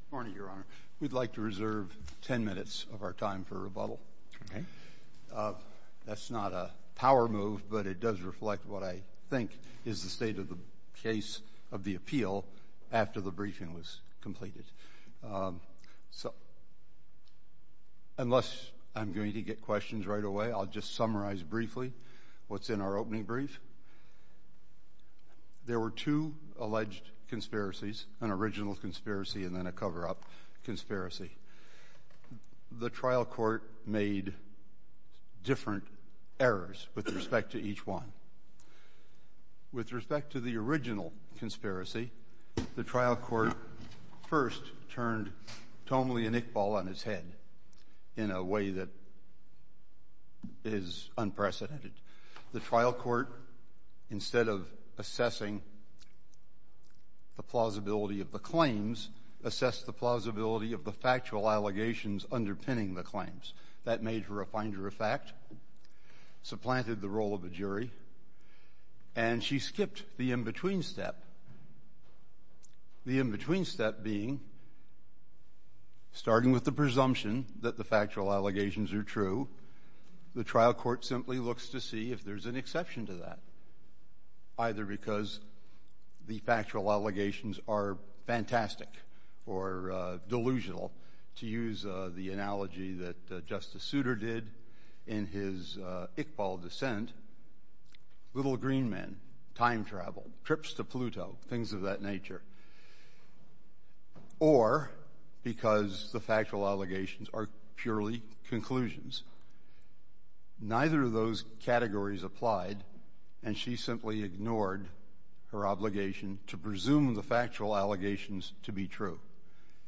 Good morning, Your Honor. We'd like to reserve 10 minutes of our time for rebuttal. Okay. That's not a power move, but it does reflect what I think is the state of the case of the appeal after the briefing was completed. So, unless I'm going to get questions right away, I'll just summarize briefly what's in our opening brief. There were two alleged conspiracies, an original conspiracy and then a cover-up conspiracy. The trial court made different errors with respect to each one. With respect to the original conspiracy, the trial court first turned tomely a nick ball on its head in a way that is unprecedented. The trial court, instead of assessing the plausibility of the claims, assessed the plausibility of the factual allegations underpinning the claims. That made for a finder of fact, supplanted the role of a jury, and she skipped the in-between step, the in-between step being, starting with the presumption that the factual allegations are true, the trial court simply looks to see if there's an exception to that, either because the factual allegations are fantastic or delusional, to use the analogy that Justice Souter did in his Iqbal dissent, little green men, time travel, trips to Pluto, things of that nature, or because the factual allegations are purely conclusions. Neither of those categories applied, and she simply ignored her obligation to presume the factual allegations to be true.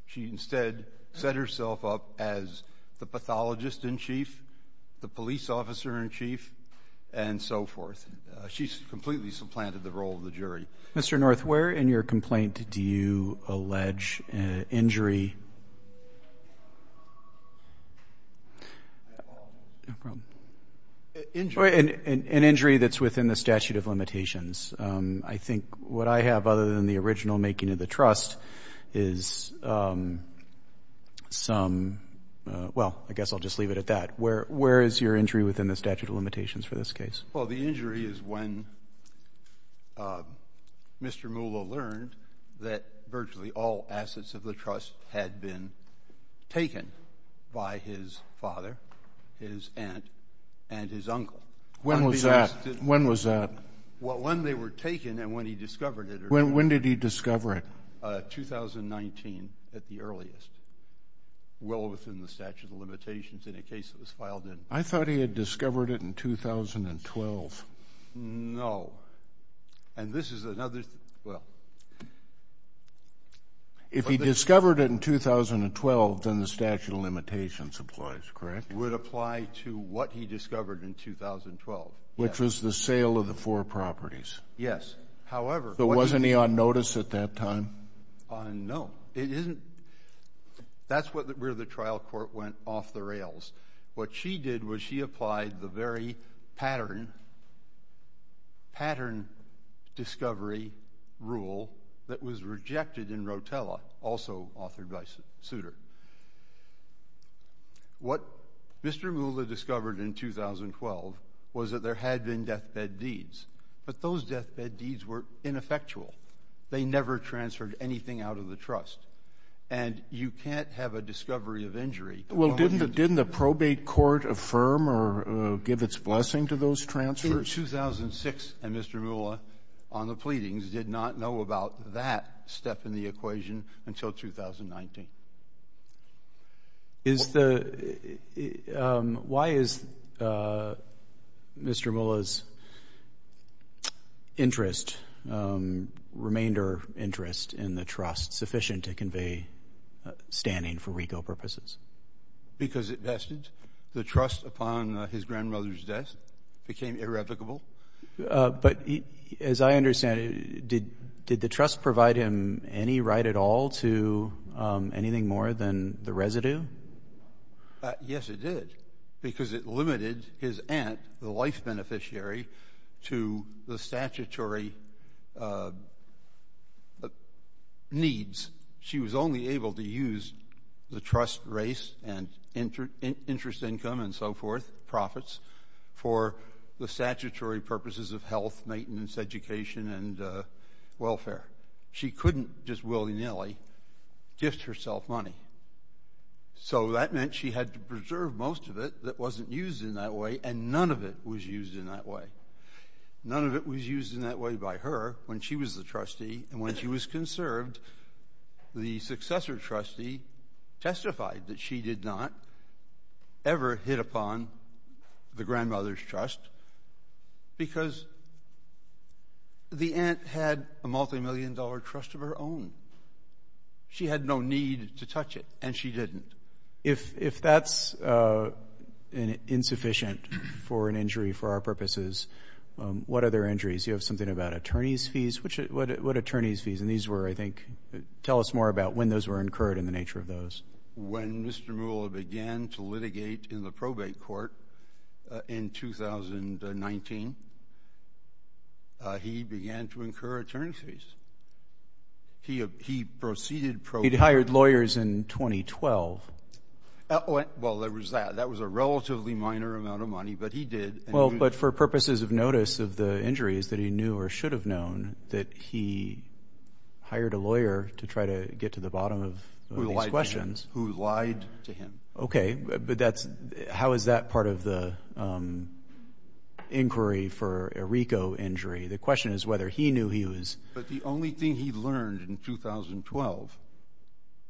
She instead set herself up as the pathologist-in-chief, the police officer-in-chief, and so forth. She completely supplanted the role of the jury. Mr. North, where in your complaint do you allege injury? An injury that's within the statute of limitations. I think what I have, other than the original making of the trust, is some, well, I guess I'll just leave it at that. Where is your injury within the statute of limitations for this case? Well, the injury is when Mr. Moolah learned that virtually all assets of the trust had been taken by his father, his aunt, and his uncle. When was that? Well, when they were taken and when he discovered it. When did he discover it? 2019 at the earliest, well within the statute of limitations in a case that was filed in. I thought he had discovered it in 2012. And this is another, well. If he discovered it in 2012, then the statute of limitations applies, correct? Would apply to what he discovered in 2012. Which was the sale of the four properties. Yes. However. So wasn't he on notice at that time? No. It isn't. That's where the trial court went off the rails. What she did was she applied the very pattern discovery rule that was rejected in Rotella, also authored by Souter. What Mr. Moolah discovered in 2012 was that there had been deathbed deeds. But those deathbed deeds were ineffectual. They never transferred anything out of the trust. And you can't have a discovery of injury. Well, didn't the probate court affirm or give its blessing to those transfers? 2006 and Mr. Moolah on the pleadings did not know about that step in the equation until 2019. Why is Mr. Moolah's interest, remainder interest in the trust sufficient to convey standing for RICO purposes? Because it vested. The trust upon his grandmother's death became irrevocable. But as I understand it, did the trust provide him any right at all to anything more than the residue? Yes, it did, because it limited his aunt, the life beneficiary, to the statutory needs. She was only able to use the trust, race, and interest income and so forth, profits, for the statutory purposes of health, maintenance, education, and welfare. She couldn't just willy-nilly gift herself money. So that meant she had to preserve most of it that wasn't used in that way, and none of it was used in that way. None of it was used in that way by her when she was the trustee. And when she was conserved, the successor trustee testified that she did not ever hit upon the grandmother's trust because the aunt had a multimillion-dollar trust of her own. She had no need to touch it, and she didn't. If that's insufficient for an injury for our purposes, what other injuries? Do you have something about attorney's fees? What attorney's fees? And these were, I think, tell us more about when those were incurred and the nature of those. When Mr. Mueller began to litigate in the probate court in 2019, he began to incur attorney's fees. He proceeded probate. He'd hired lawyers in 2012. Well, that was a relatively minor amount of money, but he did. Well, but for purposes of notice of the injuries that he knew or should have known, that he hired a lawyer to try to get to the bottom of these questions. Who lied to him. Okay, but how is that part of the inquiry for a RICO injury? The question is whether he knew he was. But the only thing he learned in 2012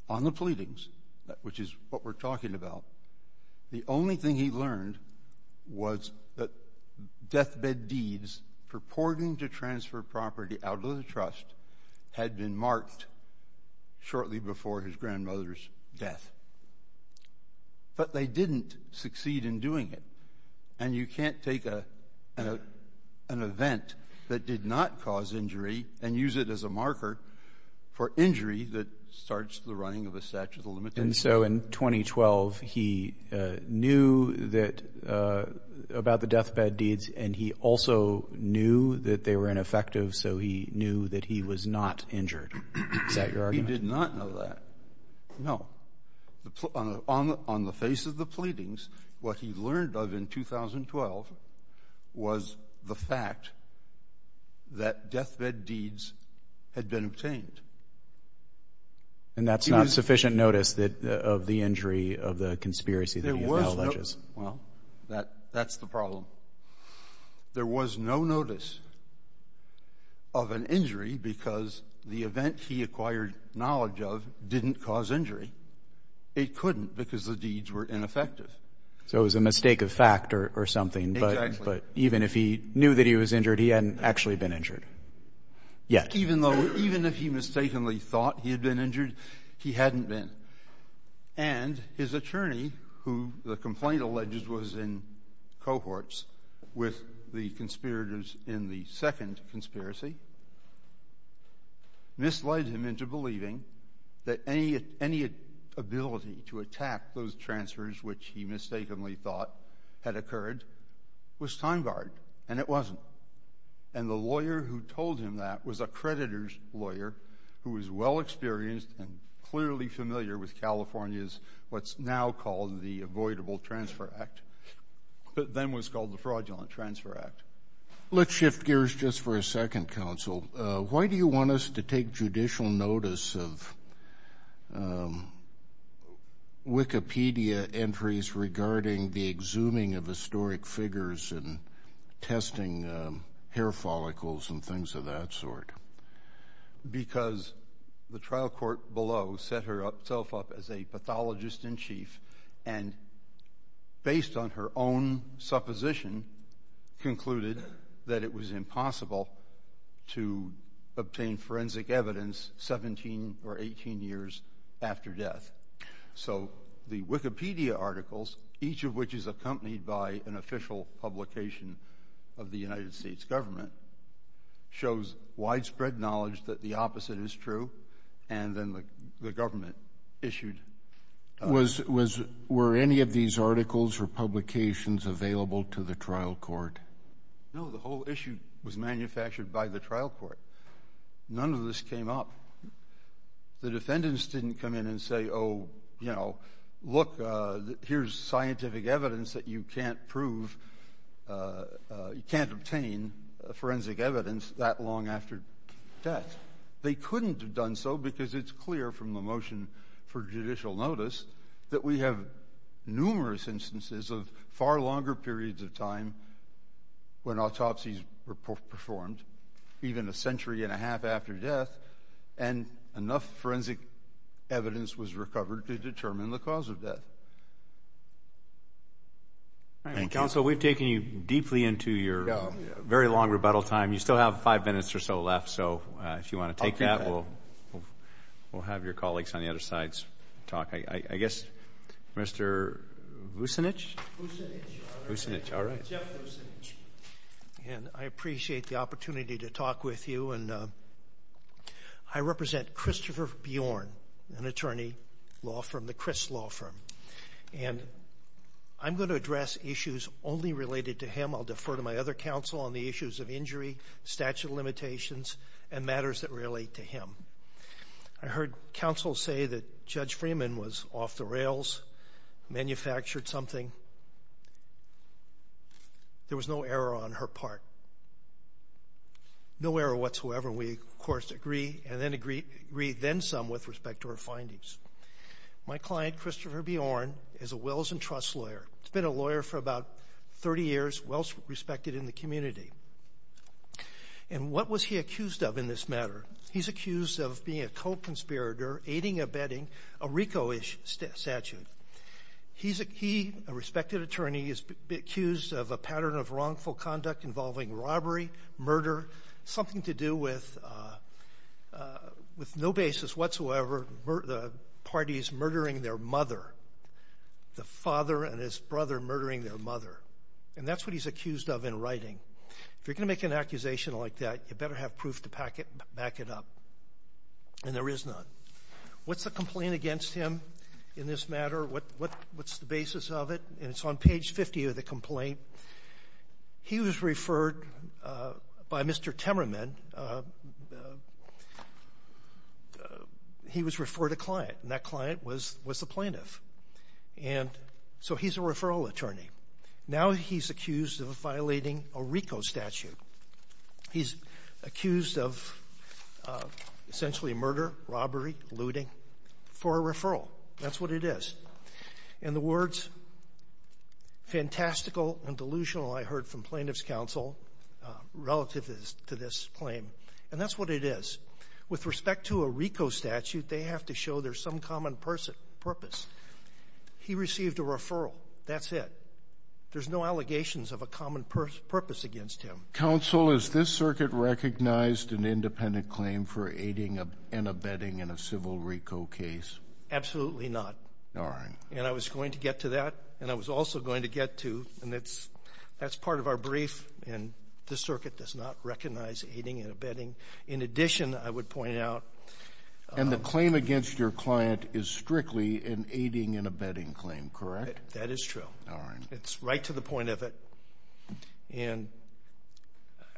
on the pleadings, which is what we're talking about, the only thing he learned was that deathbed deeds purporting to transfer property out of the trust had been marked shortly before his grandmother's death. But they didn't succeed in doing it. And you can't take an event that did not cause injury and use it as a marker for injury that starts the running of a statute of limitations. And so in 2012, he knew that the deathbed deeds, and he also knew that they were ineffective, so he knew that he was not injured. Is that your argument? He did not know that. No. On the face of the pleadings, what he learned of in 2012 was the fact that deathbed deeds had been obtained. And that's not sufficient notice of the injury of the conspiracy that he acknowledges. Well, that's the problem. There was no notice of an injury because the event he acquired knowledge of didn't cause injury. It couldn't because the deeds were ineffective. So it was a mistake of fact or something. But even if he knew that he was injured, he hadn't actually been injured yet. Even if he mistakenly thought he had been injured, he hadn't been. And his attorney, who the complaint alleges was in cohorts with the conspirators in the second conspiracy, misled him into believing that any ability to attack those transfers which he mistakenly thought had occurred was time-barred, and it wasn't. And the lawyer who told him that was a creditor's lawyer who was well-experienced and clearly familiar with California's what's now called the Avoidable Transfer Act, but then was called the Fraudulent Transfer Act. Let's shift gears just for a second, counsel. Why do you want us to take judicial notice of Wikipedia entries regarding the exhuming of historic figures and testing hair follicles and things of that sort? Because the trial court below set herself up as a pathologist-in-chief and based on her own supposition concluded that it was impossible to obtain forensic evidence 17 or 18 years after death. So the Wikipedia articles, each of which is accompanied by an official publication of the United States government, shows widespread knowledge that the opposite is true, and then the government issued. Were any of these articles or publications available to the trial court? No. The whole issue was manufactured by the trial court. None of this came up. The defendants didn't come in and say, oh, you know, look, here's scientific evidence that you can't obtain forensic evidence that long after death. They couldn't have done so because it's clear from the motion for judicial notice that we have numerous instances of far longer periods of time when autopsies were performed, even a century and a half after death, and enough forensic evidence was recovered to determine the cause of death. Counsel, we've taken you deeply into your very long rebuttal time. You still have five minutes or so left, so if you want to take that, we'll have your colleagues on the other sides talk. I guess Mr. Vucinich? Vucinich, Your Honor. Vucinich, all right. Jeff Vucinich. And I appreciate the opportunity to talk with you, and I represent Christopher Bjorn, an attorney, law firm, the Chris Law Firm, and I'm going to address issues only related to him. I'll defer to my other counsel on the issues of injury, statute of limitations, and matters that relate to him. I heard counsel say that Judge Freeman was off the rails, manufactured something. There was no error on her part. No error whatsoever, and we, of course, agree, and agree then some with respect to her findings. My client, Christopher Bjorn, is a wills and trusts lawyer. He's been a lawyer for about 30 years, well respected in the community. And what was he accused of in this matter? He's accused of being a co-conspirator, aiding or abetting a RICO-ish statute. He, a respected attorney, is accused of a pattern of wrongful conduct involving robbery, murder, something to do with no basis whatsoever, the parties murdering their mother, the father and his brother murdering their mother. And that's what he's accused of in writing. If you're going to make an accusation like that, you better have proof to back it up. And there is none. What's the complaint against him in this matter? What's the basis of it? And it's on page 50 of the complaint. He was referred by Mr. Temerman. He was referred a client, and that client was the plaintiff. And so he's a referral attorney. Now he's accused of violating a RICO statute. He's accused of essentially murder, robbery, looting for a referral. That's what it is. And the words fantastical and delusional I heard from plaintiff's counsel relative to this claim, and that's what it is. With respect to a RICO statute, they have to show there's some common purpose. He received a referral. That's it. There's no allegations of a common purpose against him. Counsel, is this circuit recognized an independent claim for aiding and abetting in a civil RICO case? Absolutely not. And I was going to get to that, and I was also going to get to, and that's part of our brief, and the circuit does not recognize aiding and abetting. In addition, I would point out. And the claim against your client is strictly an aiding and abetting claim, correct? That is true. All right. It's right to the point of it. And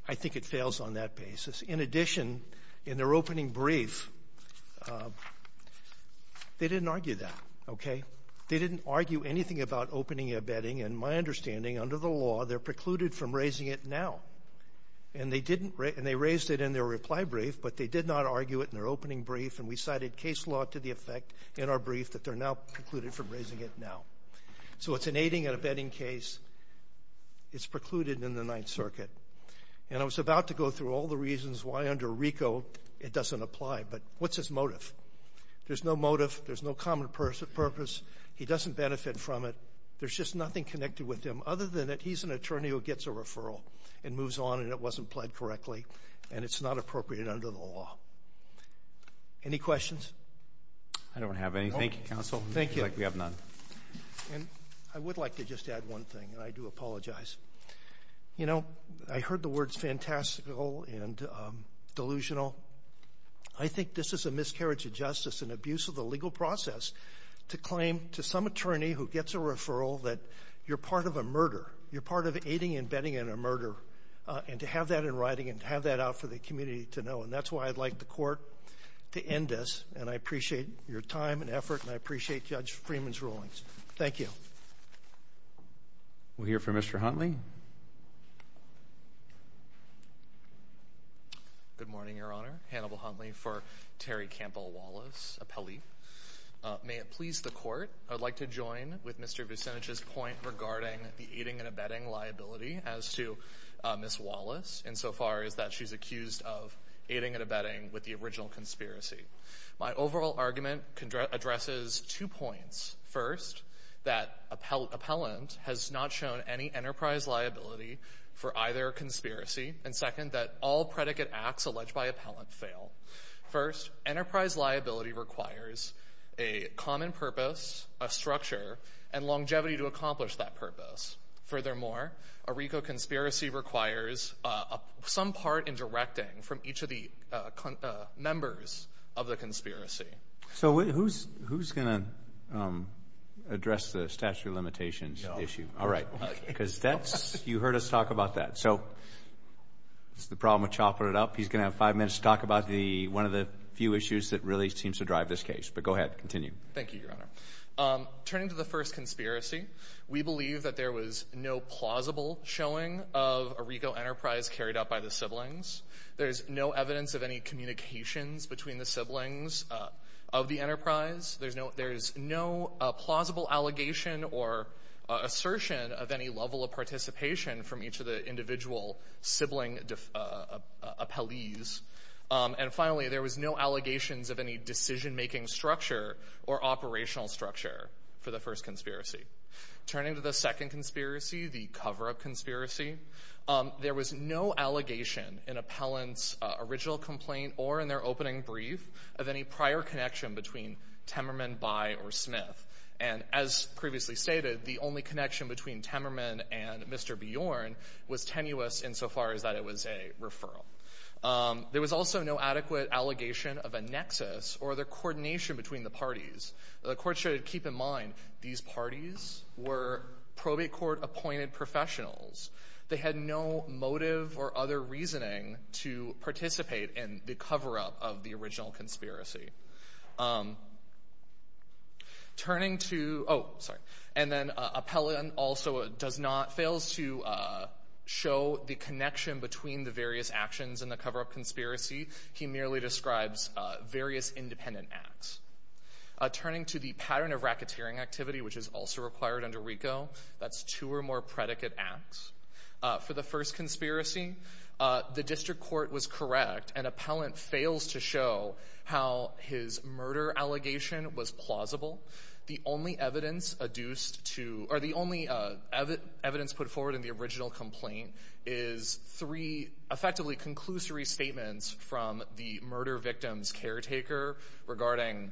I think it fails on that basis. In addition, in their opening brief, they didn't argue that. Okay? They didn't argue anything about opening and abetting, and my understanding, under the law, they're precluded from raising it now. And they didn't, and they raised it in their reply brief, but they did not argue it in their opening brief, and we cited case law to the effect in our brief that they're now precluded from raising it now. So it's an aiding and abetting case. It's precluded in the Ninth Circuit. And I was about to go through all the reasons why under RICO it doesn't apply, but what's his motive? There's no motive. There's no common purpose. He doesn't benefit from it. There's just nothing connected with him. Other than that, he's an attorney who gets a referral and moves on, and it wasn't applied correctly, and it's not appropriate under the law. Any questions? I don't have anything, Counsel. Thank you. It looks like we have none. I would like to just add one thing, and I do apologize. You know, I heard the words fantastical and delusional. I think this is a miscarriage of justice, an abuse of the legal process, to claim to some attorney who gets a referral that you're part of a murder, you're part of aiding and abetting in a murder, and to have that in writing and to have that out for the community to know. And that's why I'd like the Court to end this, and I appreciate your time and effort, and I appreciate Judge Freeman's rulings. Thank you. We'll hear from Mr. Huntley. Good morning, Your Honor. Hannibal Huntley for Terry Campbell Wallace, appellee. May it please the Court, I would like to join with Mr. Vucinich's point regarding the aiding and abetting liability as to Ms. Wallace, insofar as that she's accused of aiding and abetting with the original conspiracy. My overall argument addresses two points. First, that appellant has not shown any enterprise liability for either conspiracy, and second, that all predicate acts alleged by appellant fail. First, enterprise liability requires a common purpose, a structure, and longevity to accomplish that purpose. Furthermore, a RICO conspiracy requires some part in directing from each of the members of the conspiracy. So who's going to address the statute of limitations issue? All right, because you heard us talk about that. So it's the problem with chopping it up. He's going to have five minutes to talk about one of the few issues that really seems to drive this case. But go ahead. Continue. Thank you, Your Honor. Turning to the first conspiracy, we believe that there was no plausible showing of a RICO enterprise carried out by the siblings. There's no evidence of any communications between the siblings of the enterprise. There's no plausible allegation or assertion of any level of participation from each of the individual sibling appellees. And finally, there was no allegations of any decision-making structure or operational structure for the first conspiracy. Turning to the second conspiracy, the cover-up conspiracy, there was no allegation in appellant's original complaint or in their opening brief of any prior connection between Temmerman, Bye, or Smith. And as previously stated, the only connection between Temmerman and Mr. Bjorn was tenuous insofar as that it was a referral. There was also no adequate allegation of a nexus or their coordination between the parties. The court should keep in mind these parties were probate court-appointed professionals. They had no motive or other reasoning to participate in the cover-up of the original conspiracy. And then appellant also fails to show the connection between the various actions in the cover-up conspiracy. He merely describes various independent acts. Turning to the pattern of racketeering activity, which is also required under RICO, that's two or more predicate acts. For the first conspiracy, the district court was correct, and appellant fails to show how his murder allegation was plausible. The only evidence put forward in the original complaint is three effectively conclusory statements from the murder victim's caretaker regarding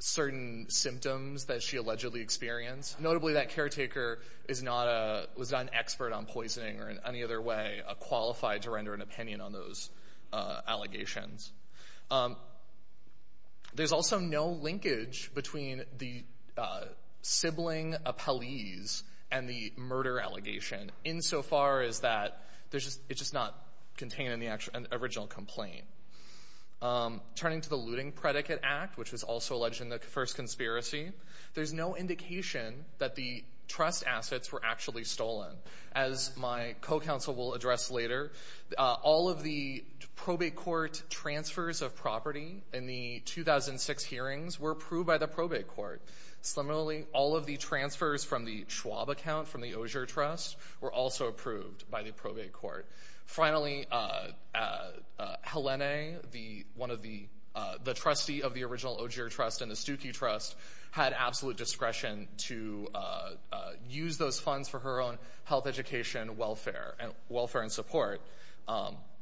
certain symptoms that she allegedly experienced. Notably, that caretaker was not an expert on poisoning or in any other way qualified to render an opinion on those allegations. There's also no linkage between the sibling appellees and the murder allegation, insofar as that it's just not contained in the original complaint. Turning to the looting predicate act, which was also alleged in the first conspiracy, there's no indication that the trust assets were actually stolen. As my co-counsel will address later, all of the probate court transfers of property in the 2006 hearings were approved by the probate court. Similarly, all of the transfers from the Schwab account from the Osher Trust were also approved by the probate court. Finally, Helena, the trustee of the original Osher Trust and the Stuckey Trust, had absolute discretion to use those funds for her own health, education, welfare, and support,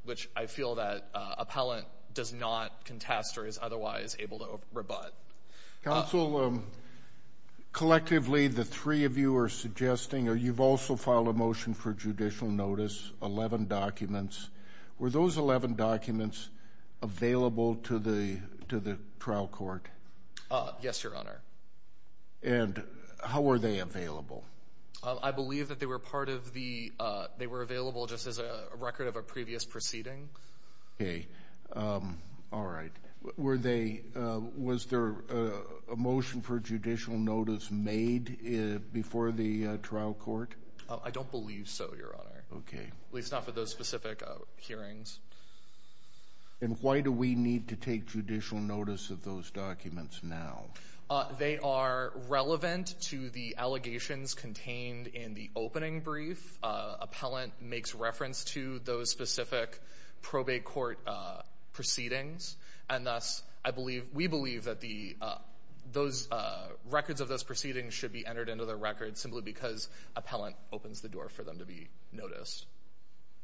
which I feel that appellant does not contest or is otherwise able to rebut. Counsel, collectively the three of you are suggesting, or you've also filed a motion for judicial notice, 11 documents. Were those 11 documents available to the trial court? Yes, Your Honor. And how were they available? I believe that they were available just as a record of a previous proceeding. Okay. All right. Were they, was there a motion for judicial notice made before the trial court? I don't believe so, Your Honor. Okay. At least not for those specific hearings. And why do we need to take judicial notice of those documents now? They are relevant to the allegations contained in the opening brief. Appellant makes reference to those specific probate court proceedings. And thus, I believe, we believe that those records of those proceedings should be entered into their records simply because appellant opens the door for them to be noticed.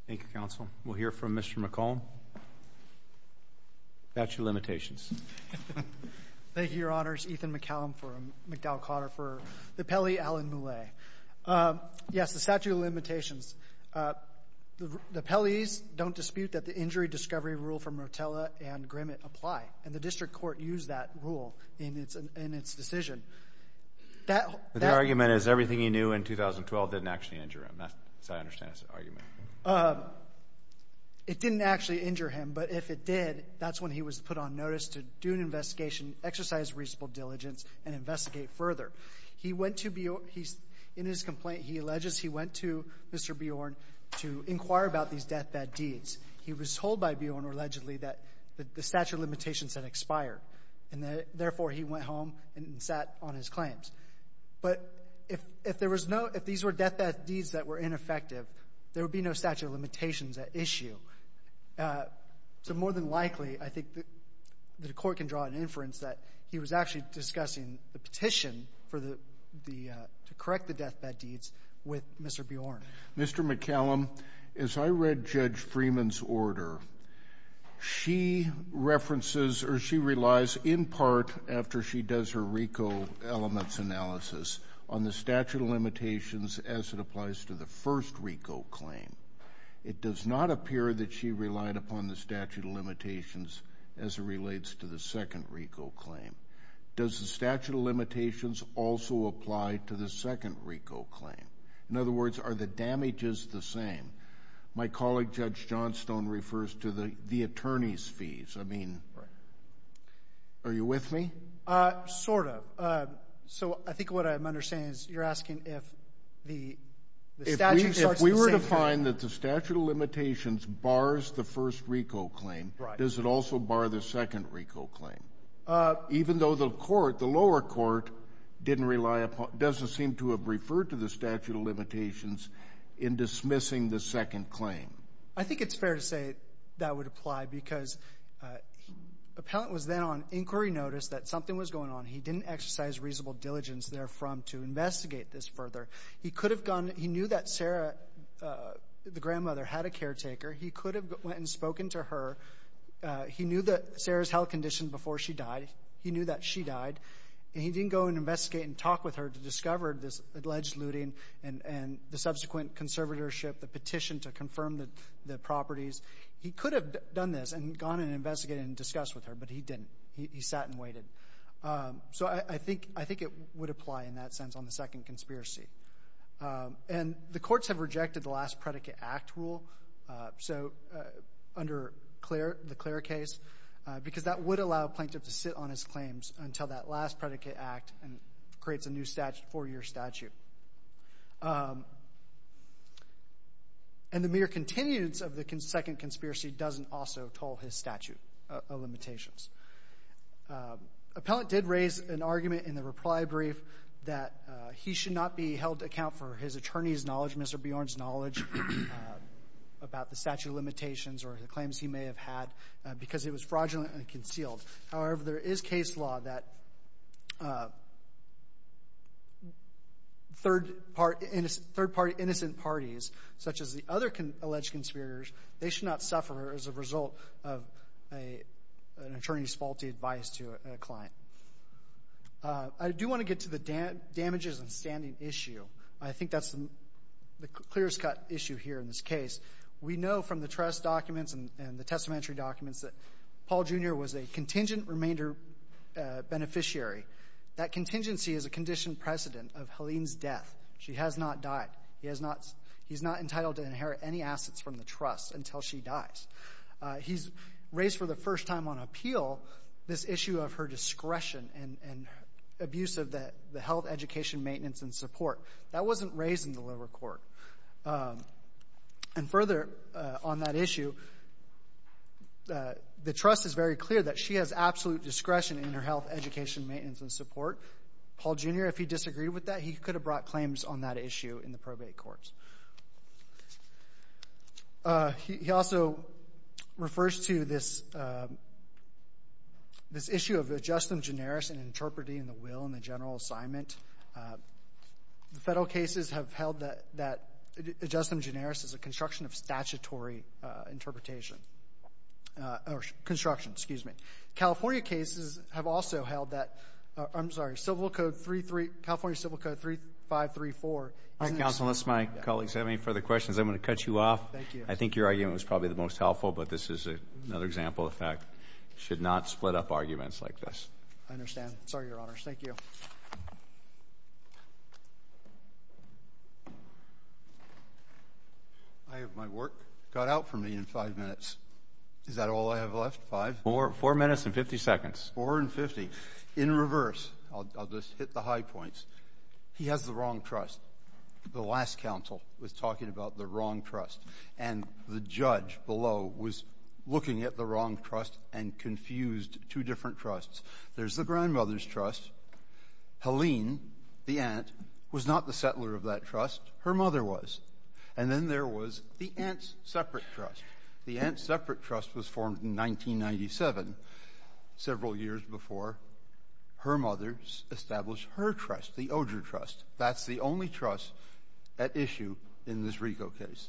Thank you, counsel. We'll hear from Mr. McCollum. Statute of limitations. Thank you, Your Honors. Ethan McCollum for McDowell-Cotter for the appellee, Alan Moulet. Yes, the statute of limitations. The appellees don't dispute that the injury discovery rule from Rotella and Grimmett apply. And the district court used that rule in its decision. The argument is everything he knew in 2012 didn't actually injure him. That's what I understand is the argument. It didn't actually injure him, but if it did, that's when he was put on notice to do an investigation, exercise reasonable diligence, and investigate further. He went to Beorn. In his complaint, he alleges he went to Mr. Beorn to inquire about these deathbed deeds. He was told by Beorn, allegedly, that the statute of limitations had expired. And therefore, he went home and sat on his claims. But if there was no – if these were deathbed deeds that were ineffective, there would be no statute of limitations at issue. So more than likely, I think the court can draw an inference that he was actually discussing the petition for the – to correct the deathbed deeds with Mr. Beorn. Mr. McCallum, as I read Judge Freeman's order, she references or she relies in part, after she does her RICO elements analysis, on the statute of limitations as it applies to the first RICO claim. It does not appear that she relied upon the statute of limitations as it relates to the second RICO claim. Does the statute of limitations also apply to the second RICO claim? In other words, are the damages the same? My colleague, Judge Johnstone, refers to the attorney's fees. I mean, are you with me? Sort of. So I think what I'm understanding is you're asking if the statute starts at the same time. If you find that the statute of limitations bars the first RICO claim, does it also bar the second RICO claim? Even though the court, the lower court, didn't rely upon – doesn't seem to have referred to the statute of limitations in dismissing the second claim. I think it's fair to say that would apply because Appellant was then on inquiry notice that something was going on. He didn't exercise reasonable diligence therefrom to investigate this further. He could have gone – he knew that Sarah, the grandmother, had a caretaker. He could have went and spoken to her. He knew that Sarah's health conditions before she died. He knew that she died. And he didn't go and investigate and talk with her to discover this alleged looting and the subsequent conservatorship, the petition to confirm the properties. He could have done this and gone and investigated and discussed with her, but he didn't. He sat and waited. So I think it would apply in that sense on the second conspiracy. And the courts have rejected the last predicate act rule, so under the Clare case, because that would allow a plaintiff to sit on his claims until that last predicate act creates a new four-year statute. And the mere continuance of the second conspiracy doesn't also toll his statute of limitations. Appellant did raise an argument in the reply brief that he should not be held to account for his attorney's knowledge, Mr. Bjorn's knowledge about the statute of limitations or the claims he may have had because it was fraudulent and concealed. However, there is case law that third-party innocent parties, such as the other alleged conspirators, they should not suffer as a result of an attorney's faulty advice to a client. I do want to get to the damages and standing issue. I think that's the clearest cut issue here in this case. We know from the trust documents and the testamentary documents that Paul Jr. was a contingent remainder beneficiary. That contingency is a conditioned precedent of Helene's death. She has not died. He's not entitled to inherit any assets from the trust until she dies. He's raised for the first time on appeal this issue of her discretion and abuse of the health, education, maintenance, and support. That wasn't raised in the lower court. And further on that issue, the trust is very clear that she has absolute discretion in her health, education, maintenance, and support. Paul Jr., if he disagreed with that, he could have brought claims on that issue in the probate courts. He also refers to this issue of ad justum generis and interpreting the will in the general assignment. The federal cases have held that ad justum generis is a construction of statutory interpretation. Or construction, excuse me. California cases have also held that, I'm sorry, California Civil Code 3534. Counsel, unless my colleagues have any further questions, I'm going to cut you off. Thank you. I think your argument was probably the most helpful, but this is another example of fact. Should not split up arguments like this. I understand. Sorry, Your Honors. Thank you. I have my work cut out for me in five minutes. Is that all I have left, five? Four minutes and 50 seconds. Four and 50. In reverse, I'll just hit the high points. He has the wrong trust. The last counsel was talking about the wrong trust. And the judge below was looking at the wrong trust and confused two different trusts. There's the grandmother's trust. Helene, the aunt, was not the settler of that trust. Her mother was. And then there was the aunt's separate trust. The aunt's separate trust was formed in 1997, several years before her mother established her trust, the Oger Trust. That's the only trust at issue in this Rigo case.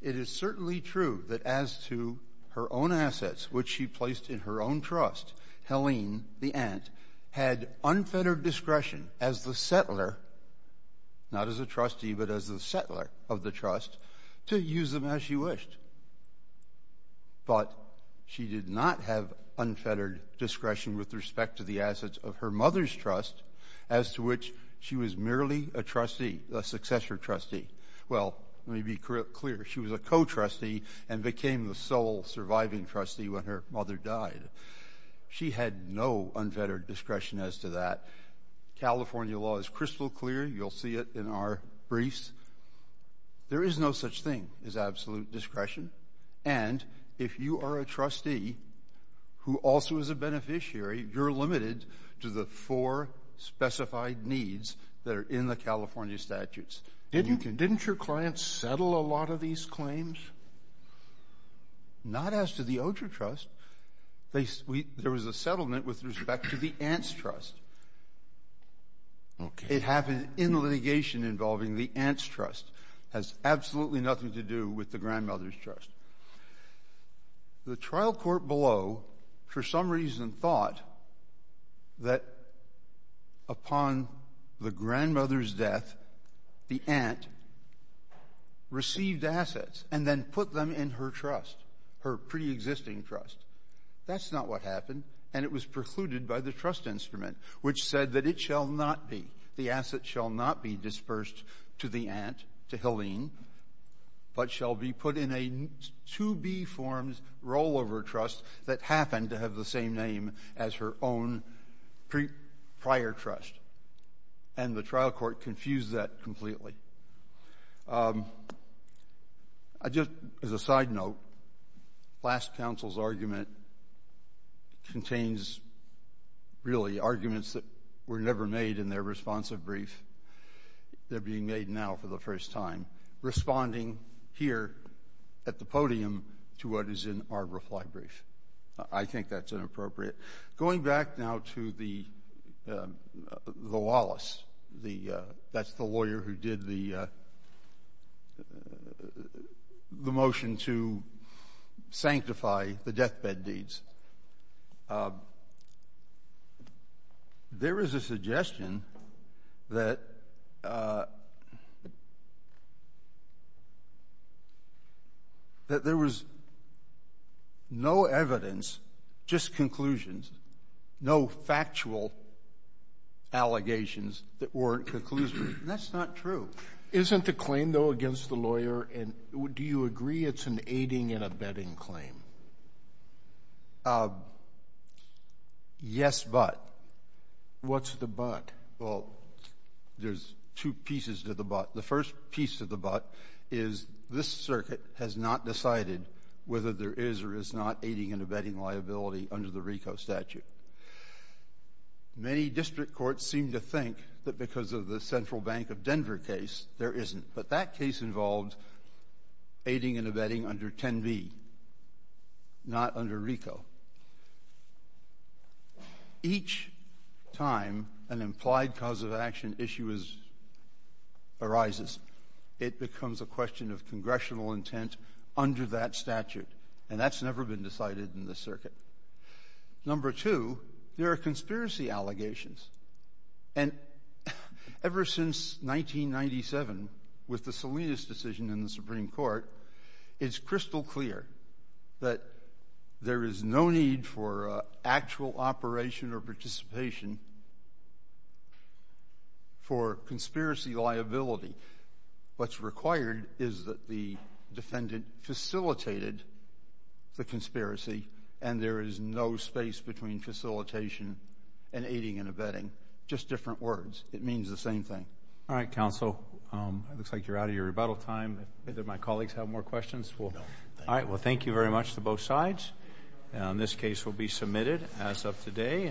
It is certainly true that as to her own assets, which she placed in her own trust, Helene, the aunt, had unfettered discretion as the settler, not as a trustee, but as the settler of the trust, to use them as she wished. But she did not have unfettered discretion with respect to the assets of her mother's trust, as to which she was merely a trustee, a successor trustee. Well, let me be clear. She was a co-trustee and became the sole surviving trustee when her mother died. She had no unfettered discretion as to that. California law is crystal clear. You'll see it in our briefs. There is no such thing as absolute discretion. And if you are a trustee who also is a beneficiary, you're limited to the four specified needs that are in the California statutes. Didn't your clients settle a lot of these claims? Not as to the Oger Trust. There was a settlement with respect to the aunt's trust. Okay. It happened in litigation involving the aunt's trust. It has absolutely nothing to do with the grandmother's trust. The trial court below, for some reason, thought that upon the grandmother's death, the aunt received assets and then put them in her trust, her preexisting trust. That's not what happened, and it was precluded by the trust instrument, which said that it shall not be, the assets shall not be dispersed to the aunt, to Helene, but shall be put in a to-be-formed rollover trust that happened to have the same name as her own prior trust. And the trial court confused that completely. I just, as a side note, last counsel's argument contains really arguments that were never made in their responsive brief. They're being made now for the first time, responding here at the podium to what is in our reply brief. I think that's inappropriate. Going back now to the Wallace, that's the lawyer who did the motion to sanctify the deathbed deeds. There is a suggestion that there was no evidence, just conclusions, no factual allegations that weren't conclusions. That's not true. Isn't the claim, though, against the lawyer, and do you agree it's an aiding and abetting claim? Yes, but. What's the but? Well, there's two pieces to the but. The first piece to the but is this circuit has not decided whether there is or is not aiding and abetting liability under the RICO statute. Many district courts seem to think that because of the Central Bank of Denver case, there isn't. But that case involved aiding and abetting under 10B, not under RICO. Each time an implied cause of action issue arises, it becomes a question of congressional intent under that statute, and that's never been decided in this circuit. Number two, there are conspiracy allegations. And ever since 1997, with the Salinas decision in the Supreme Court, it's crystal clear that there is no need for actual operation or participation for conspiracy liability. What's required is that the defendant facilitated the conspiracy, and there is no space between facilitation and aiding and abetting. Just different words. It means the same thing. All right, counsel. It looks like you're out of your rebuttal time. Do my colleagues have more questions? All right. Well, thank you very much to both sides. This case will be submitted as of today.